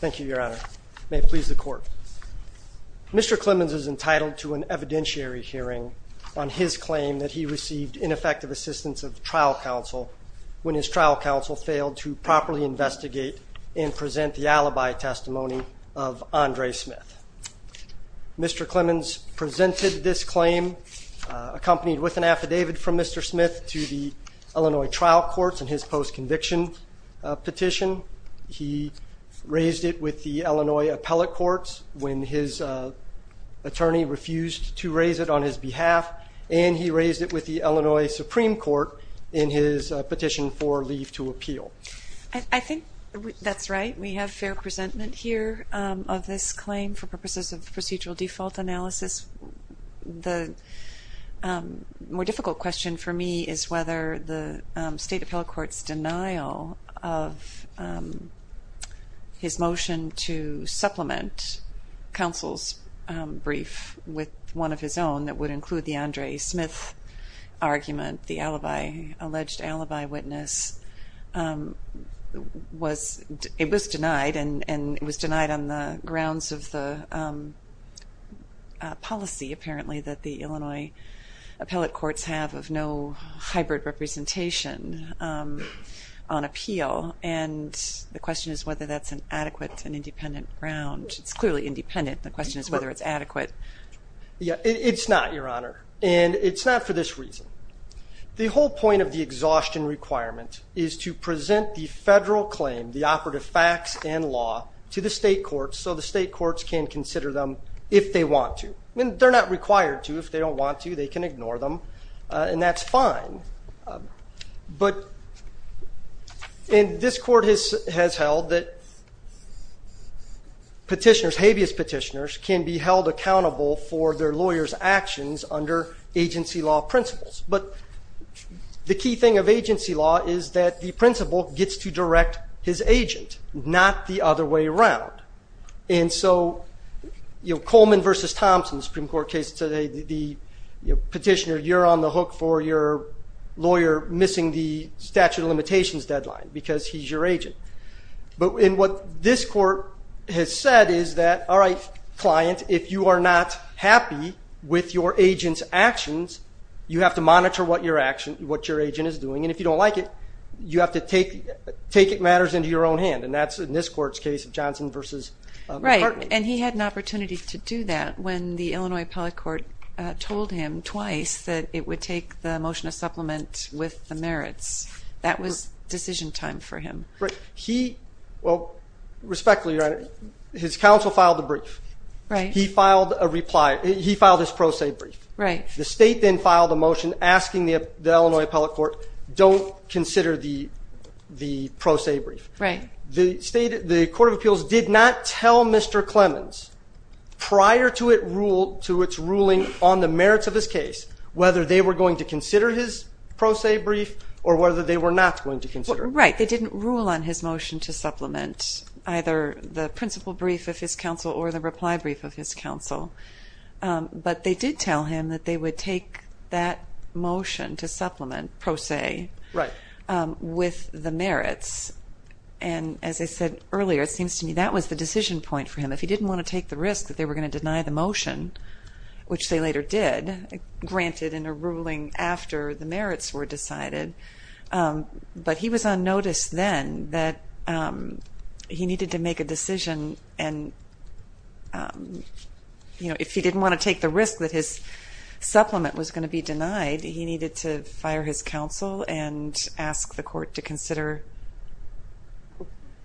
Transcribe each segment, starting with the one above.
Thank you your honor. May it please the court. Mr. Clemons is entitled to an evidentiary hearing on his claim that he received ineffective assistance of trial counsel when his trial counsel failed to properly investigate and present the alibi testimony of Andre Smith. Mr. Clemons presented this claim accompanied with an affidavit from Mr. Smith to the Illinois trial courts and his post-conviction petition. He raised it with the Illinois appellate courts when his attorney refused to raise it on his behalf and he raised it with the Illinois Supreme Court in his petition for leave to appeal. I think that's right we have fair presentment here of this claim for purposes of procedural default analysis. The more difficult question for me is whether the state appellate courts denial of his motion to supplement counsel's brief with one of his own that would include the Andre Smith argument the alibi alleged alibi witness was it was denied and and it was denied on the grounds of the policy apparently that the Illinois appellate courts have of no hybrid representation on appeal and the question is whether that's an adequate and independent ground. It's clearly independent the question is whether it's adequate. Yeah it's not your honor and it's not for this reason. The whole point of the exhaustion requirement is to present the federal claim the operative facts and law to the state courts so the state courts can consider them if they want to. They're not required to if they don't want to they can ignore them and that's fine but in this court has has held that petitioners habeas petitioners can be held accountable for their lawyers actions under agency law principles but the key thing of agency law is that the principal gets to direct his agent not the other way around and so you know Coleman versus Thompson Supreme Court case today the petitioner you're on the hook for your lawyer missing the statute of limitations deadline because he's your agent but in what this court has said is that alright client if you are not happy with your agents actions you have to monitor what your action what your agent is doing and if you don't like it you have to take take it matters into your own hand and that's in this court's case Johnson versus right and he had an opportunity to do that when the Illinois Appellate Court told him twice that it would take the motion of supplement with the merits that was decision time for him but he well respectfully right his counsel filed a brief right he filed a reply he filed this pro se brief right the state then filed a motion asking the Illinois Appellate Court don't consider the the pro se brief right the state the Court of Appeals did not tell mr. Clemens prior to it rule to its ruling on the merits of his case whether they were going to consider his pro se brief or whether they were not going to consider right they didn't rule on his motion to supplement either the principal brief of his counsel or the reply brief of his counsel but they did tell him that they would take that motion to supplement pro se right with the merits and as I said earlier it seems to me that was the decision point for him if he didn't want to take the risk that they were going to deny the motion which they later did granted in a ruling after the merits were decided but he was on notice then that he needed to make a decision and you know if he didn't want to take the risk that his supplement was going to be in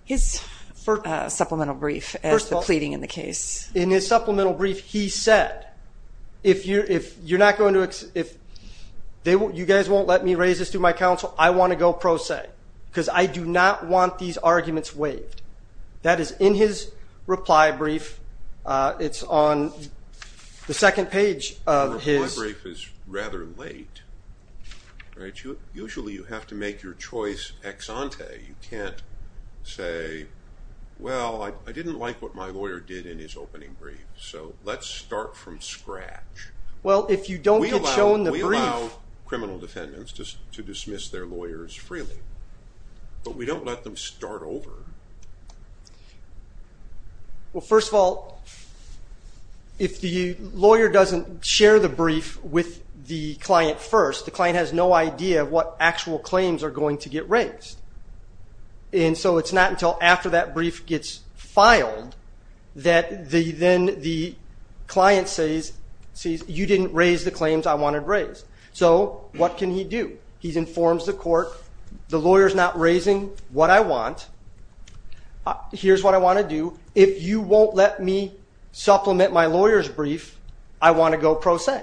his supplemental brief he said if you're if you're not going to if they will you guys won't let me raise this to my counsel I want to go pro se because I do not want these arguments waived that is in his reply brief it's on the second page of his reply brief is rather late right you usually you have to make your choice ex ante you can't say well I didn't like what my lawyer did in his opening brief so let's start from scratch well if you don't get shown the brief criminal defendants just to dismiss their lawyers freely but we share the brief with the client first the client has no idea what actual claims are going to get raised and so it's not until after that brief gets filed that the then the client says sees you didn't raise the claims I wanted raised so what can he do he's informs the court the lawyers not raising what I want here's what I want to do if you won't let me supplement my lawyers brief I want to go pro se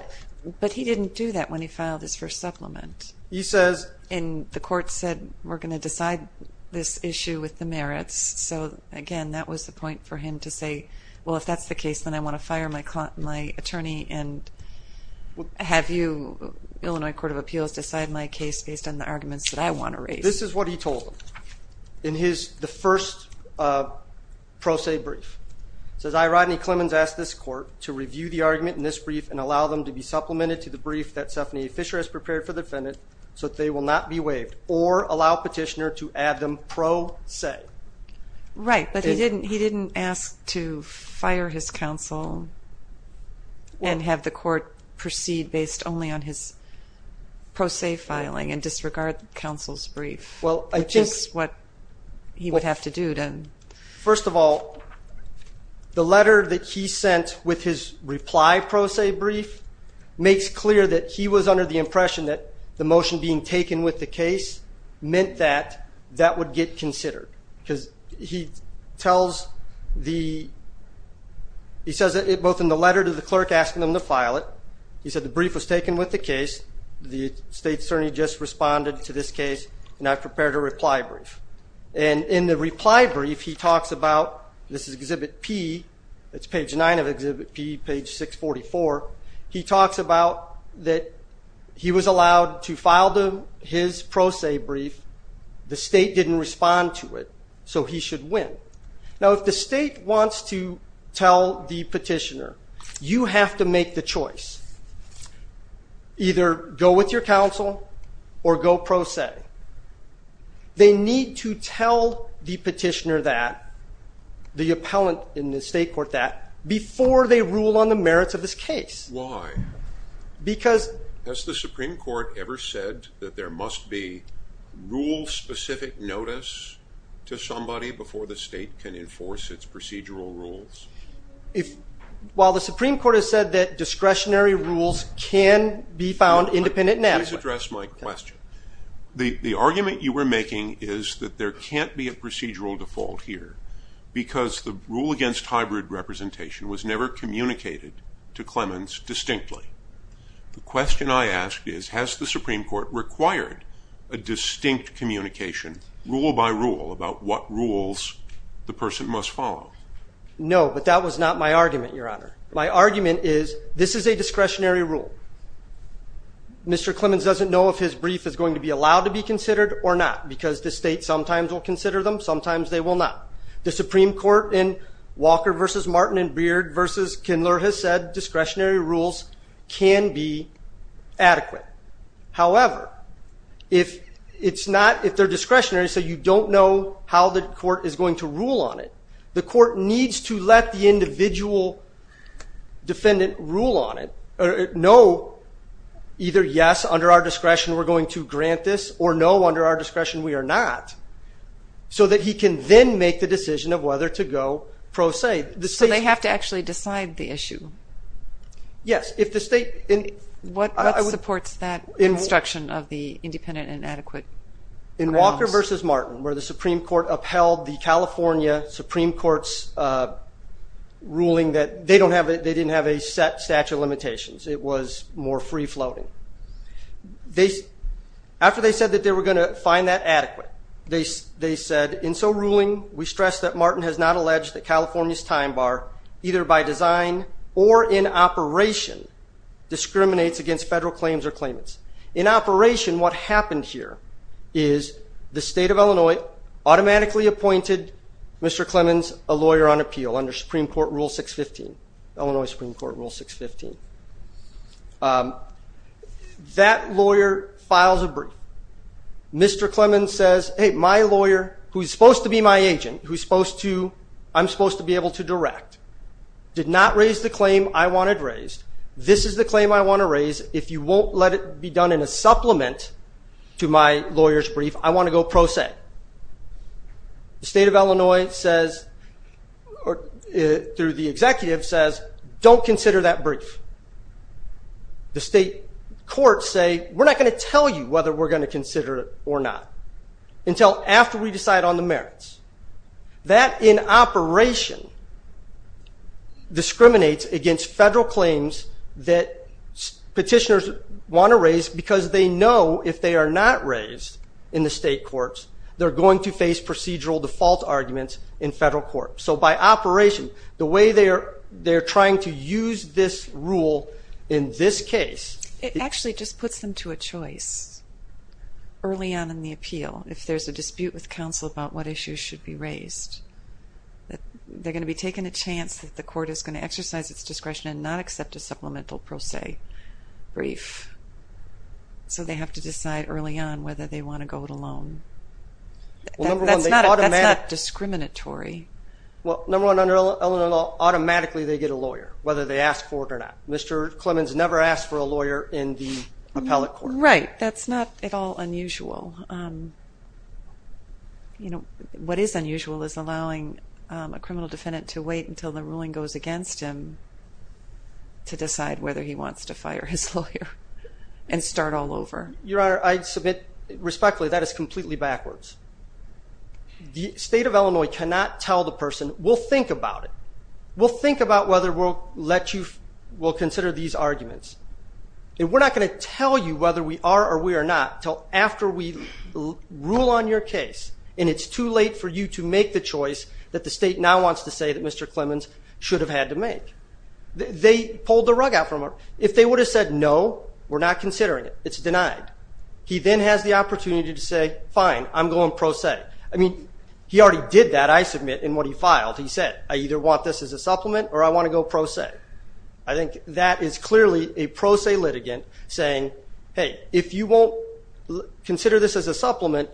but he didn't do that when he filed his first supplement he says in the court said we're going to decide this issue with the merits so again that was the point for him to say well if that's the case then I want to fire my client my attorney and have you Illinois Court of Appeals decide my case based on the arguments that I want to raise this is what he told in his the pro se brief says I Rodney Clemens asked this court to review the argument in this brief and allow them to be supplemented to the brief that Stephanie Fisher has prepared for the defendant so they will not be waived or allow petitioner to add them pro se right but he didn't he didn't ask to fire his counsel and have the court proceed based only on his pro se filing and disregard counsel's brief well I think what he would have to do then first of all the letter that he sent with his reply pro se brief makes clear that he was under the impression that the motion being taken with the case meant that that would get considered because he tells the he says it both in the letter to the clerk asking them to file it he said the brief was taken with the case the state attorney just responded to this case and I prepared a reply brief and in the reply brief he talks about this is exhibit P that's page 9 of exhibit P page 644 he talks about that he was allowed to file them his pro se brief the state didn't respond to it so he should win now if the state wants to tell the petitioner you have to make the choice either go with your counsel or go pro se they need to tell the petitioner that the appellant in the state court that before they rule on the merits of this case why because as the Supreme Court ever said that there must be rule specific notice to somebody before the state can enforce its procedural rules if while the Supreme Court has said that discretionary rules can be found independent address my question the argument you were making is that there can't be a procedural default here because the rule against hybrid representation was never communicated to Clemens distinctly question I asked is has the Supreme Court required a distinct communication rule-by-rule about what rules the person must follow no but that was not my argument your honor my argument is this is a discretionary rule Mr. Clemens doesn't know if his brief is going to be allowed to be considered or not because the state sometimes will consider them sometimes they will not the Supreme Court in Walker versus Martin and Beard versus Kindler has said discretionary rules can be adequate however if it's not if they're discretionary so you don't know how the court is going to the court needs to let the individual defendant rule on it or no either yes under our discretion we're going to grant this or no under our discretion we are not so that he can then make the decision of whether to go pro se the so they have to actually decide the issue yes if the state in what supports that instruction of the independent and adequate in Walker versus Martin where the Supreme Court upheld the California Supreme Court's ruling that they don't have it they didn't have a set statute of limitations it was more free-floating they after they said that they were going to find that adequate they they said in so ruling we stress that Martin has not alleged that California's time bar either by design or in operation discriminates against federal claims or automatically appointed mr. Clemens a lawyer on appeal under Supreme Court rule 615 Illinois Supreme Court rule 615 that lawyer files a brief mr. Clemens says hey my lawyer who's supposed to be my agent who's supposed to I'm supposed to be able to direct did not raise the claim I wanted raised this is the claim I want to raise if you won't let it be done in a supplement to my lawyers brief I want to go pro se the state of Illinois says or it through the executive says don't consider that brief the state court say we're not going to tell you whether we're going to consider it or not until after we decide on the merits that in operation discriminates against federal claims that petitioners want to raise because they know if they are not raised in the state courts they're going to face procedural default arguments in federal court so by operation the way they are they're trying to use this rule in this case it actually just puts them to a choice early on in the appeal if there's a dispute with counsel about what issues should be raised they're going to be taken a chance that the court is going to exercise its discretion and not accept a supplemental pro se brief so they have to decide early on whether they want to go to loan that's not discriminatory well number one under Illinois automatically they get a lawyer whether they ask for it or not Mr. Clemens never asked for a lawyer in the appellate court right that's not at all unusual you know what is unusual is allowing a criminal defendant to wait until the ruling goes against him to decide whether he wants to fire his lawyer and start all over your honor I submit respectfully that is completely backwards the state of Illinois cannot tell the person will think about it we'll think about whether we'll let you will consider these arguments and we're not going to tell you whether we are or we are not till after we rule on your case and it's too late for you to make the choice that the state now wants to say that Mr. Clemens should have had to make they pulled the rug out from her if they would have said no we're not considering it it's denied he then has the opportunity to say fine I'm going pro se I mean he already did that I submit in what he filed he said I either want this as a supplement or I want to go pro se I think that is clearly a pro se litigant saying hey if you won't consider this as a supplement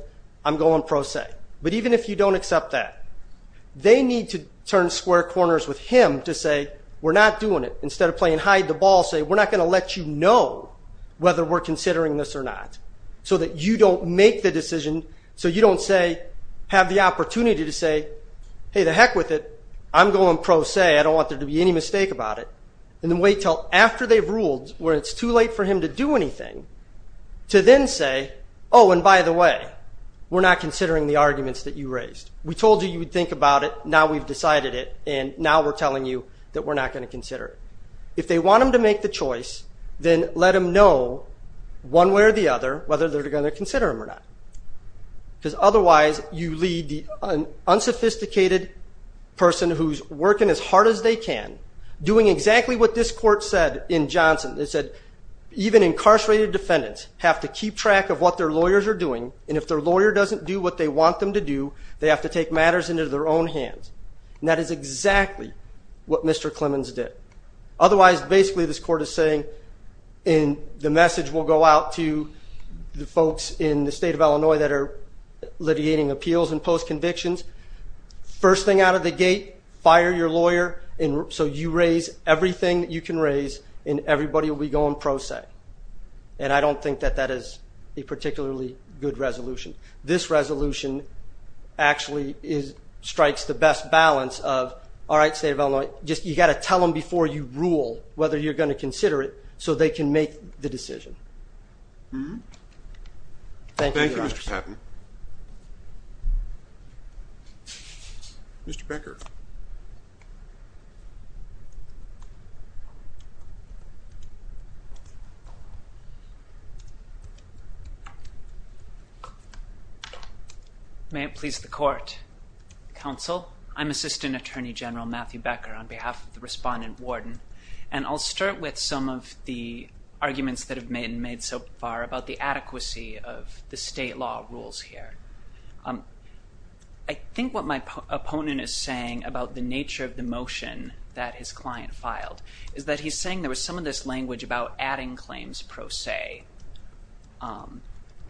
I'm going pro se but even if you don't accept that they need to turn square corners with him to say we're not doing it instead of playing hide the ball say we're not going to let you know whether we're considering this or not so that you don't make the decision so you don't say have the opportunity to say hey the heck with it I'm going pro se I don't want there to be any mistake about it and then wait till after they've ruled where it's too late for him to do anything to then say oh and by the way we're not think about it now we've decided it and now we're telling you that we're not going to consider if they want them to make the choice then let them know one way or the other whether they're going to consider him or not because otherwise you lead the unsophisticated person who's working as hard as they can doing exactly what this court said in Johnson they said even incarcerated defendants have to keep track of what their lawyers are doing and if their lawyer doesn't do what they want them to do they have to take matters into their own hands and that is exactly what mr. Clemens did otherwise basically this court is saying in the message will go out to the folks in the state of Illinois that are litigating appeals and post convictions first thing out of the gate fire your lawyer and so you raise everything you can raise and everybody will be going pro se and I don't think that that is a particularly good resolution this resolution actually is strikes the best balance of all right state of Illinois just you got to tell them before you rule whether you're going to consider it so they can make the decision mm-hmm thank you mr. Patton mr. Becker may it please the court counsel I'm assistant attorney general Matthew Becker on behalf of the respondent warden and I'll start with some of the about the adequacy of the state law rules here I think what my opponent is saying about the nature of the motion that his client filed is that he's saying there was some of this language about adding claims pro se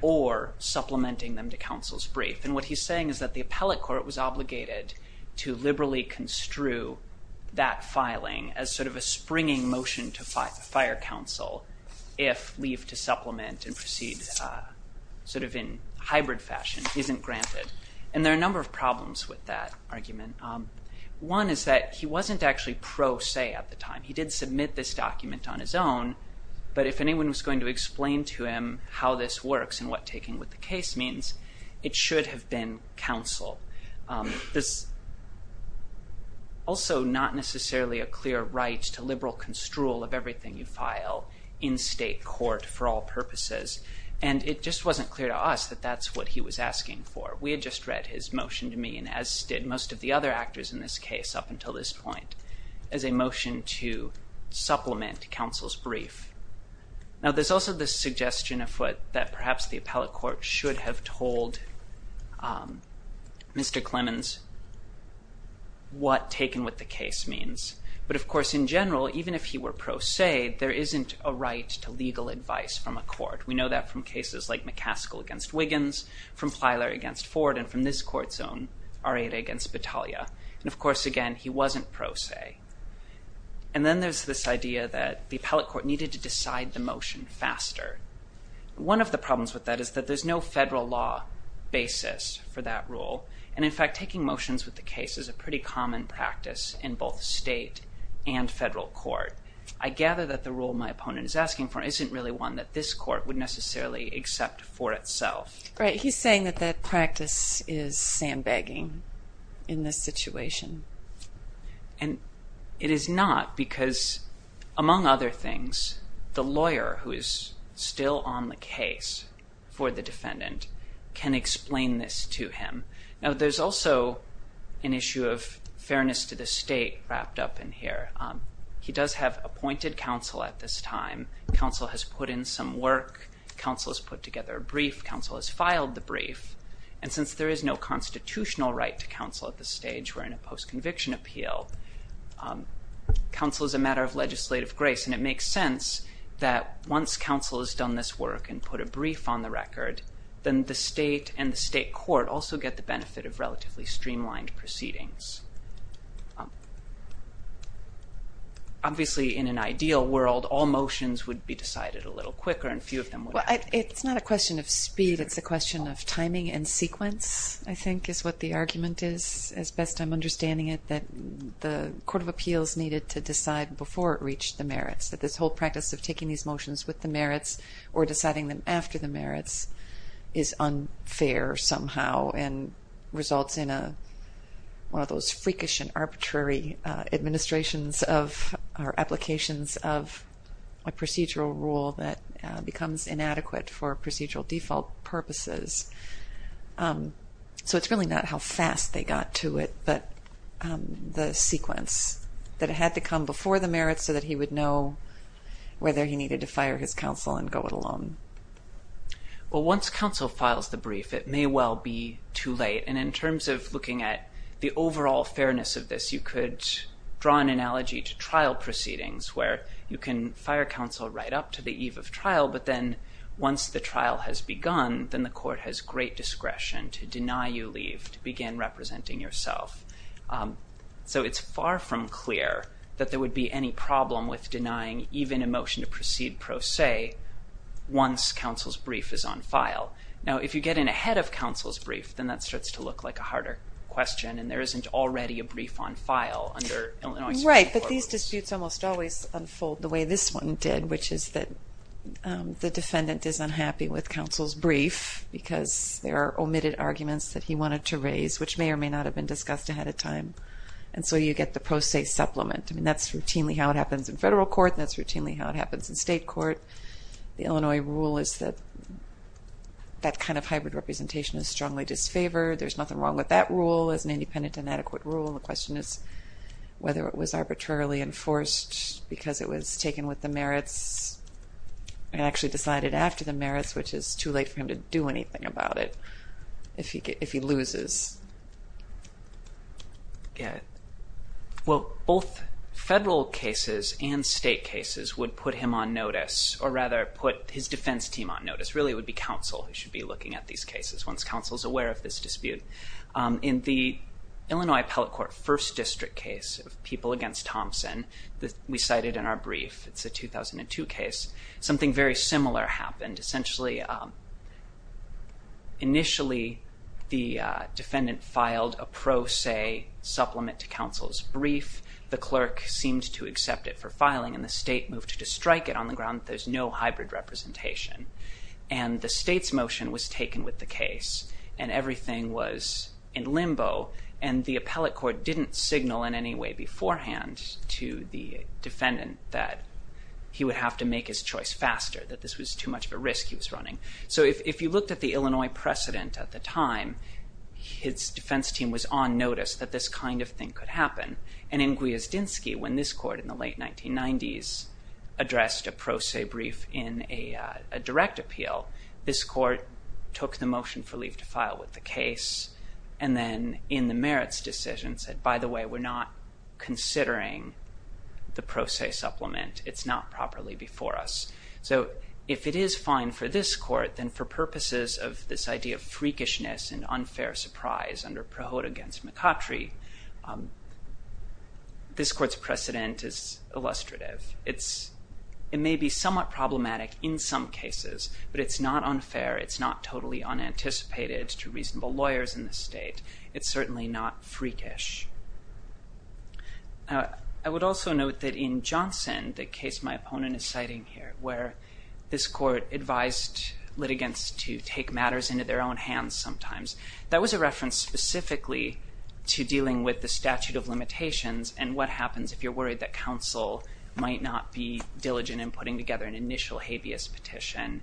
or supplementing them to counsel's brief and what he's saying is that the appellate court was obligated to liberally construe that filing as sort of a springing motion to fight the fire counsel if leave to supplement and proceed sort of in hybrid fashion isn't granted and there are a number of problems with that argument one is that he wasn't actually pro se at the time he did submit this document on his own but if anyone was going to explain to him how this works and what taking with the case means it should have been counsel this also not necessarily a clear right to liberal construal of everything you file in state court for all purposes and it just wasn't clear to us that that's what he was asking for we had just read his motion to me and as did most of the other actors in this case up until this point as a motion to supplement counsel's brief now there's also this suggestion of what that perhaps the Mr. Clemens what taken with the case means but of course in general even if he were pro se there isn't a right to legal advice from a court we know that from cases like McCaskill against Wiggins from Plyler against Ford and from this court's own R.A. against Battaglia and of course again he wasn't pro se and then there's this idea that the appellate court needed to decide the motion faster one of the problems with that is that there's no federal law basis for that rule and in fact taking motions with the case is a pretty common practice in both state and federal court I gather that the rule my opponent is asking for isn't really one that this court would necessarily accept for itself right he's saying that that practice is sandbagging in this situation and it is not because among other things the lawyer who is still on the case for the defendant can explain this to him now there's also an issue of fairness to the state wrapped up in here he does have appointed counsel at this time counsel has put in some work counsel has put together a brief counsel has filed the brief and since there is no constitutional right to counsel at this stage we're in a post-conviction appeal counsel is a matter of legislative grace and it makes sense that once counsel has done this work and put a brief on the record then the state and state court also get the benefit of relatively streamlined proceedings obviously in an ideal world all motions would be decided a little quicker and few of them it's not a question of speed it's a question of timing and sequence I think is what the argument is as best I'm understanding it that the Court of Appeals needed to decide before it reached the merits that this whole practice of taking these merits or deciding them after the merits is unfair somehow and results in a one of those freakish and arbitrary administrations of our applications of a procedural rule that becomes inadequate for procedural default purposes so it's really not how fast they got to it but the sequence that had to come before the and go it alone well once counsel files the brief it may well be too late and in terms of looking at the overall fairness of this you could draw an analogy to trial proceedings where you can fire counsel right up to the eve of trial but then once the trial has begun then the court has great discretion to deny you leave to begin representing yourself so it's far from clear that there would be any problem with denying even a motion to proceed pro se once counsel's brief is on file now if you get in ahead of counsel's brief then that starts to look like a harder question and there isn't already a brief on file under Illinois Supreme Court rules. Right, but these disputes almost always unfold the way this one did which is that the defendant is unhappy with counsel's brief because there are omitted arguments that he wanted to raise which may or may not have been discussed ahead of time and so you get the pro se supplement and that's routinely how it happens in federal court that's routinely how it happens in state court the Illinois rule is that that kind of hybrid representation is strongly disfavored there's nothing wrong with that rule as an independent and adequate rule the question is whether it was arbitrarily enforced because it was taken with the merits and actually decided after the merits which is too late for him to do anything about it if he loses. Well both federal cases and state cases would put him on notice or rather put his defense team on notice really would be counsel should be looking at these cases once counsel's aware of this dispute in the Illinois appellate court first district case of people against Thompson that we cited in our brief it's a 2002 case something very similar happened essentially initially the defendant filed a pro se supplement to counsel's brief the clerk seemed to accept it for filing and the state moved to strike it on the ground there's no hybrid representation and the state's motion was taken with the case and everything was in limbo and the appellate court didn't signal in any way beforehand to the defendant that he would have to make his choice faster that this was too much of a risk he was running so if you looked at the Illinois precedent at the time his defense team was on notice that this kind of thing could happen and in Gwiazdinski when this court in the late 1990s addressed a pro se brief in a direct appeal this court took the motion for leave to file with the case and then in the merits decision said by the way we're not considering the pro se supplement it's not properly before us so if it is fine for this court then for purposes of this idea of freakishness and unfair surprise under Prohode against McCottry this court's precedent is illustrative it's it may be somewhat problematic in some cases but it's not unfair it's not totally unanticipated to reasonable lawyers in the state it's I would also note that in Johnson the case my opponent is citing here where this court advised litigants to take matters into their own hands sometimes that was a reference specifically to dealing with the statute of limitations and what happens if you're worried that counsel might not be diligent in putting together an initial habeas petition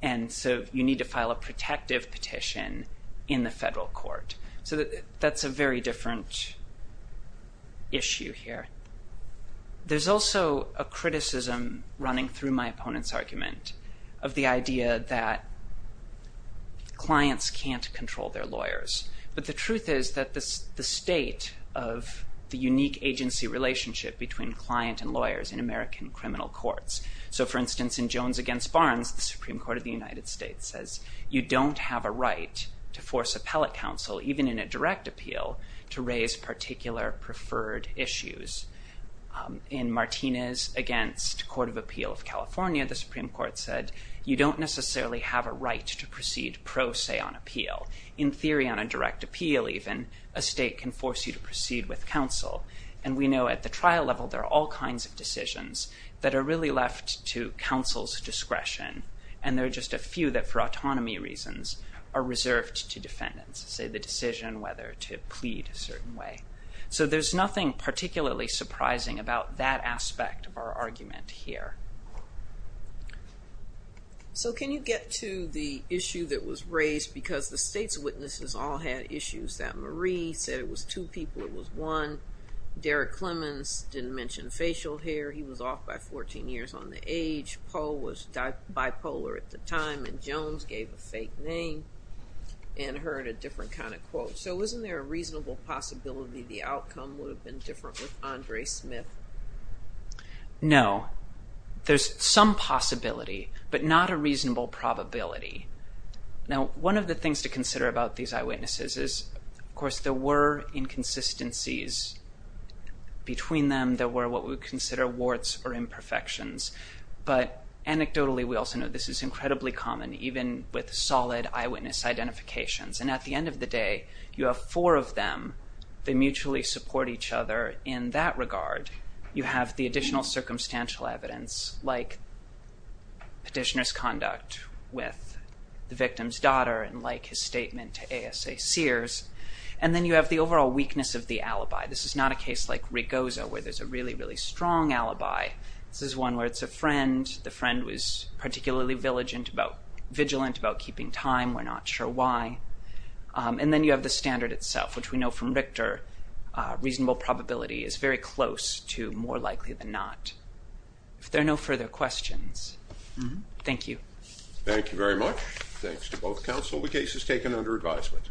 and so you need to file a protective petition in the federal court so that that's a very different issue here there's also a criticism running through my opponent's argument of the idea that clients can't control their lawyers but the truth is that this the state of the unique agency relationship between client and lawyers in American criminal courts so for instance in Jones against Barnes the Supreme Court of the United States says you don't have a right to force appellate counsel even in a direct appeal to raise particular preferred issues in Martinez against Court of Appeal of California the Supreme Court said you don't necessarily have a right to proceed pro se on appeal in theory on a direct appeal even a state can force you to proceed with counsel and we know at the trial level there are all kinds of decisions that are really left to counsel's discretion and there are just a few that for autonomy reasons are reserved to defendants say the decision whether to plead a certain way so there's nothing particularly surprising about that aspect of our argument here so can you get to the issue that was raised because the state's witnesses all had issues that Marie said it was two people it was one Derek Clemens didn't mention facial hair he was off by 14 years on the age Paul was bipolar at the time and Jones gave a fake name and heard a different kind of quote so isn't there a reasonable possibility the outcome would have been different with Andre Smith no there's some possibility but not a reasonable probability now one of the things to consider about these eyewitnesses is of course there were inconsistencies between them there were what we consider warts or imperfections but anecdotally we also know this is incredibly common even with solid eyewitness identifications and at the end of the day you have four of them they mutually support each other in that regard you have the additional circumstantial evidence like petitioners conduct with the victim's daughter and like his statement to ASA Sears and then you have the overall weakness of the alibi this is not a case like Rigoza where there's a really really strong alibi this is one where it's a friend the friend was particularly vigilant about vigilant about keeping time we're not sure why and then you have the standard itself which we know from Richter reasonable probability is very close to more likely than not if there are no further questions thank you thank you very much thanks to both counsel the case is taken under advisement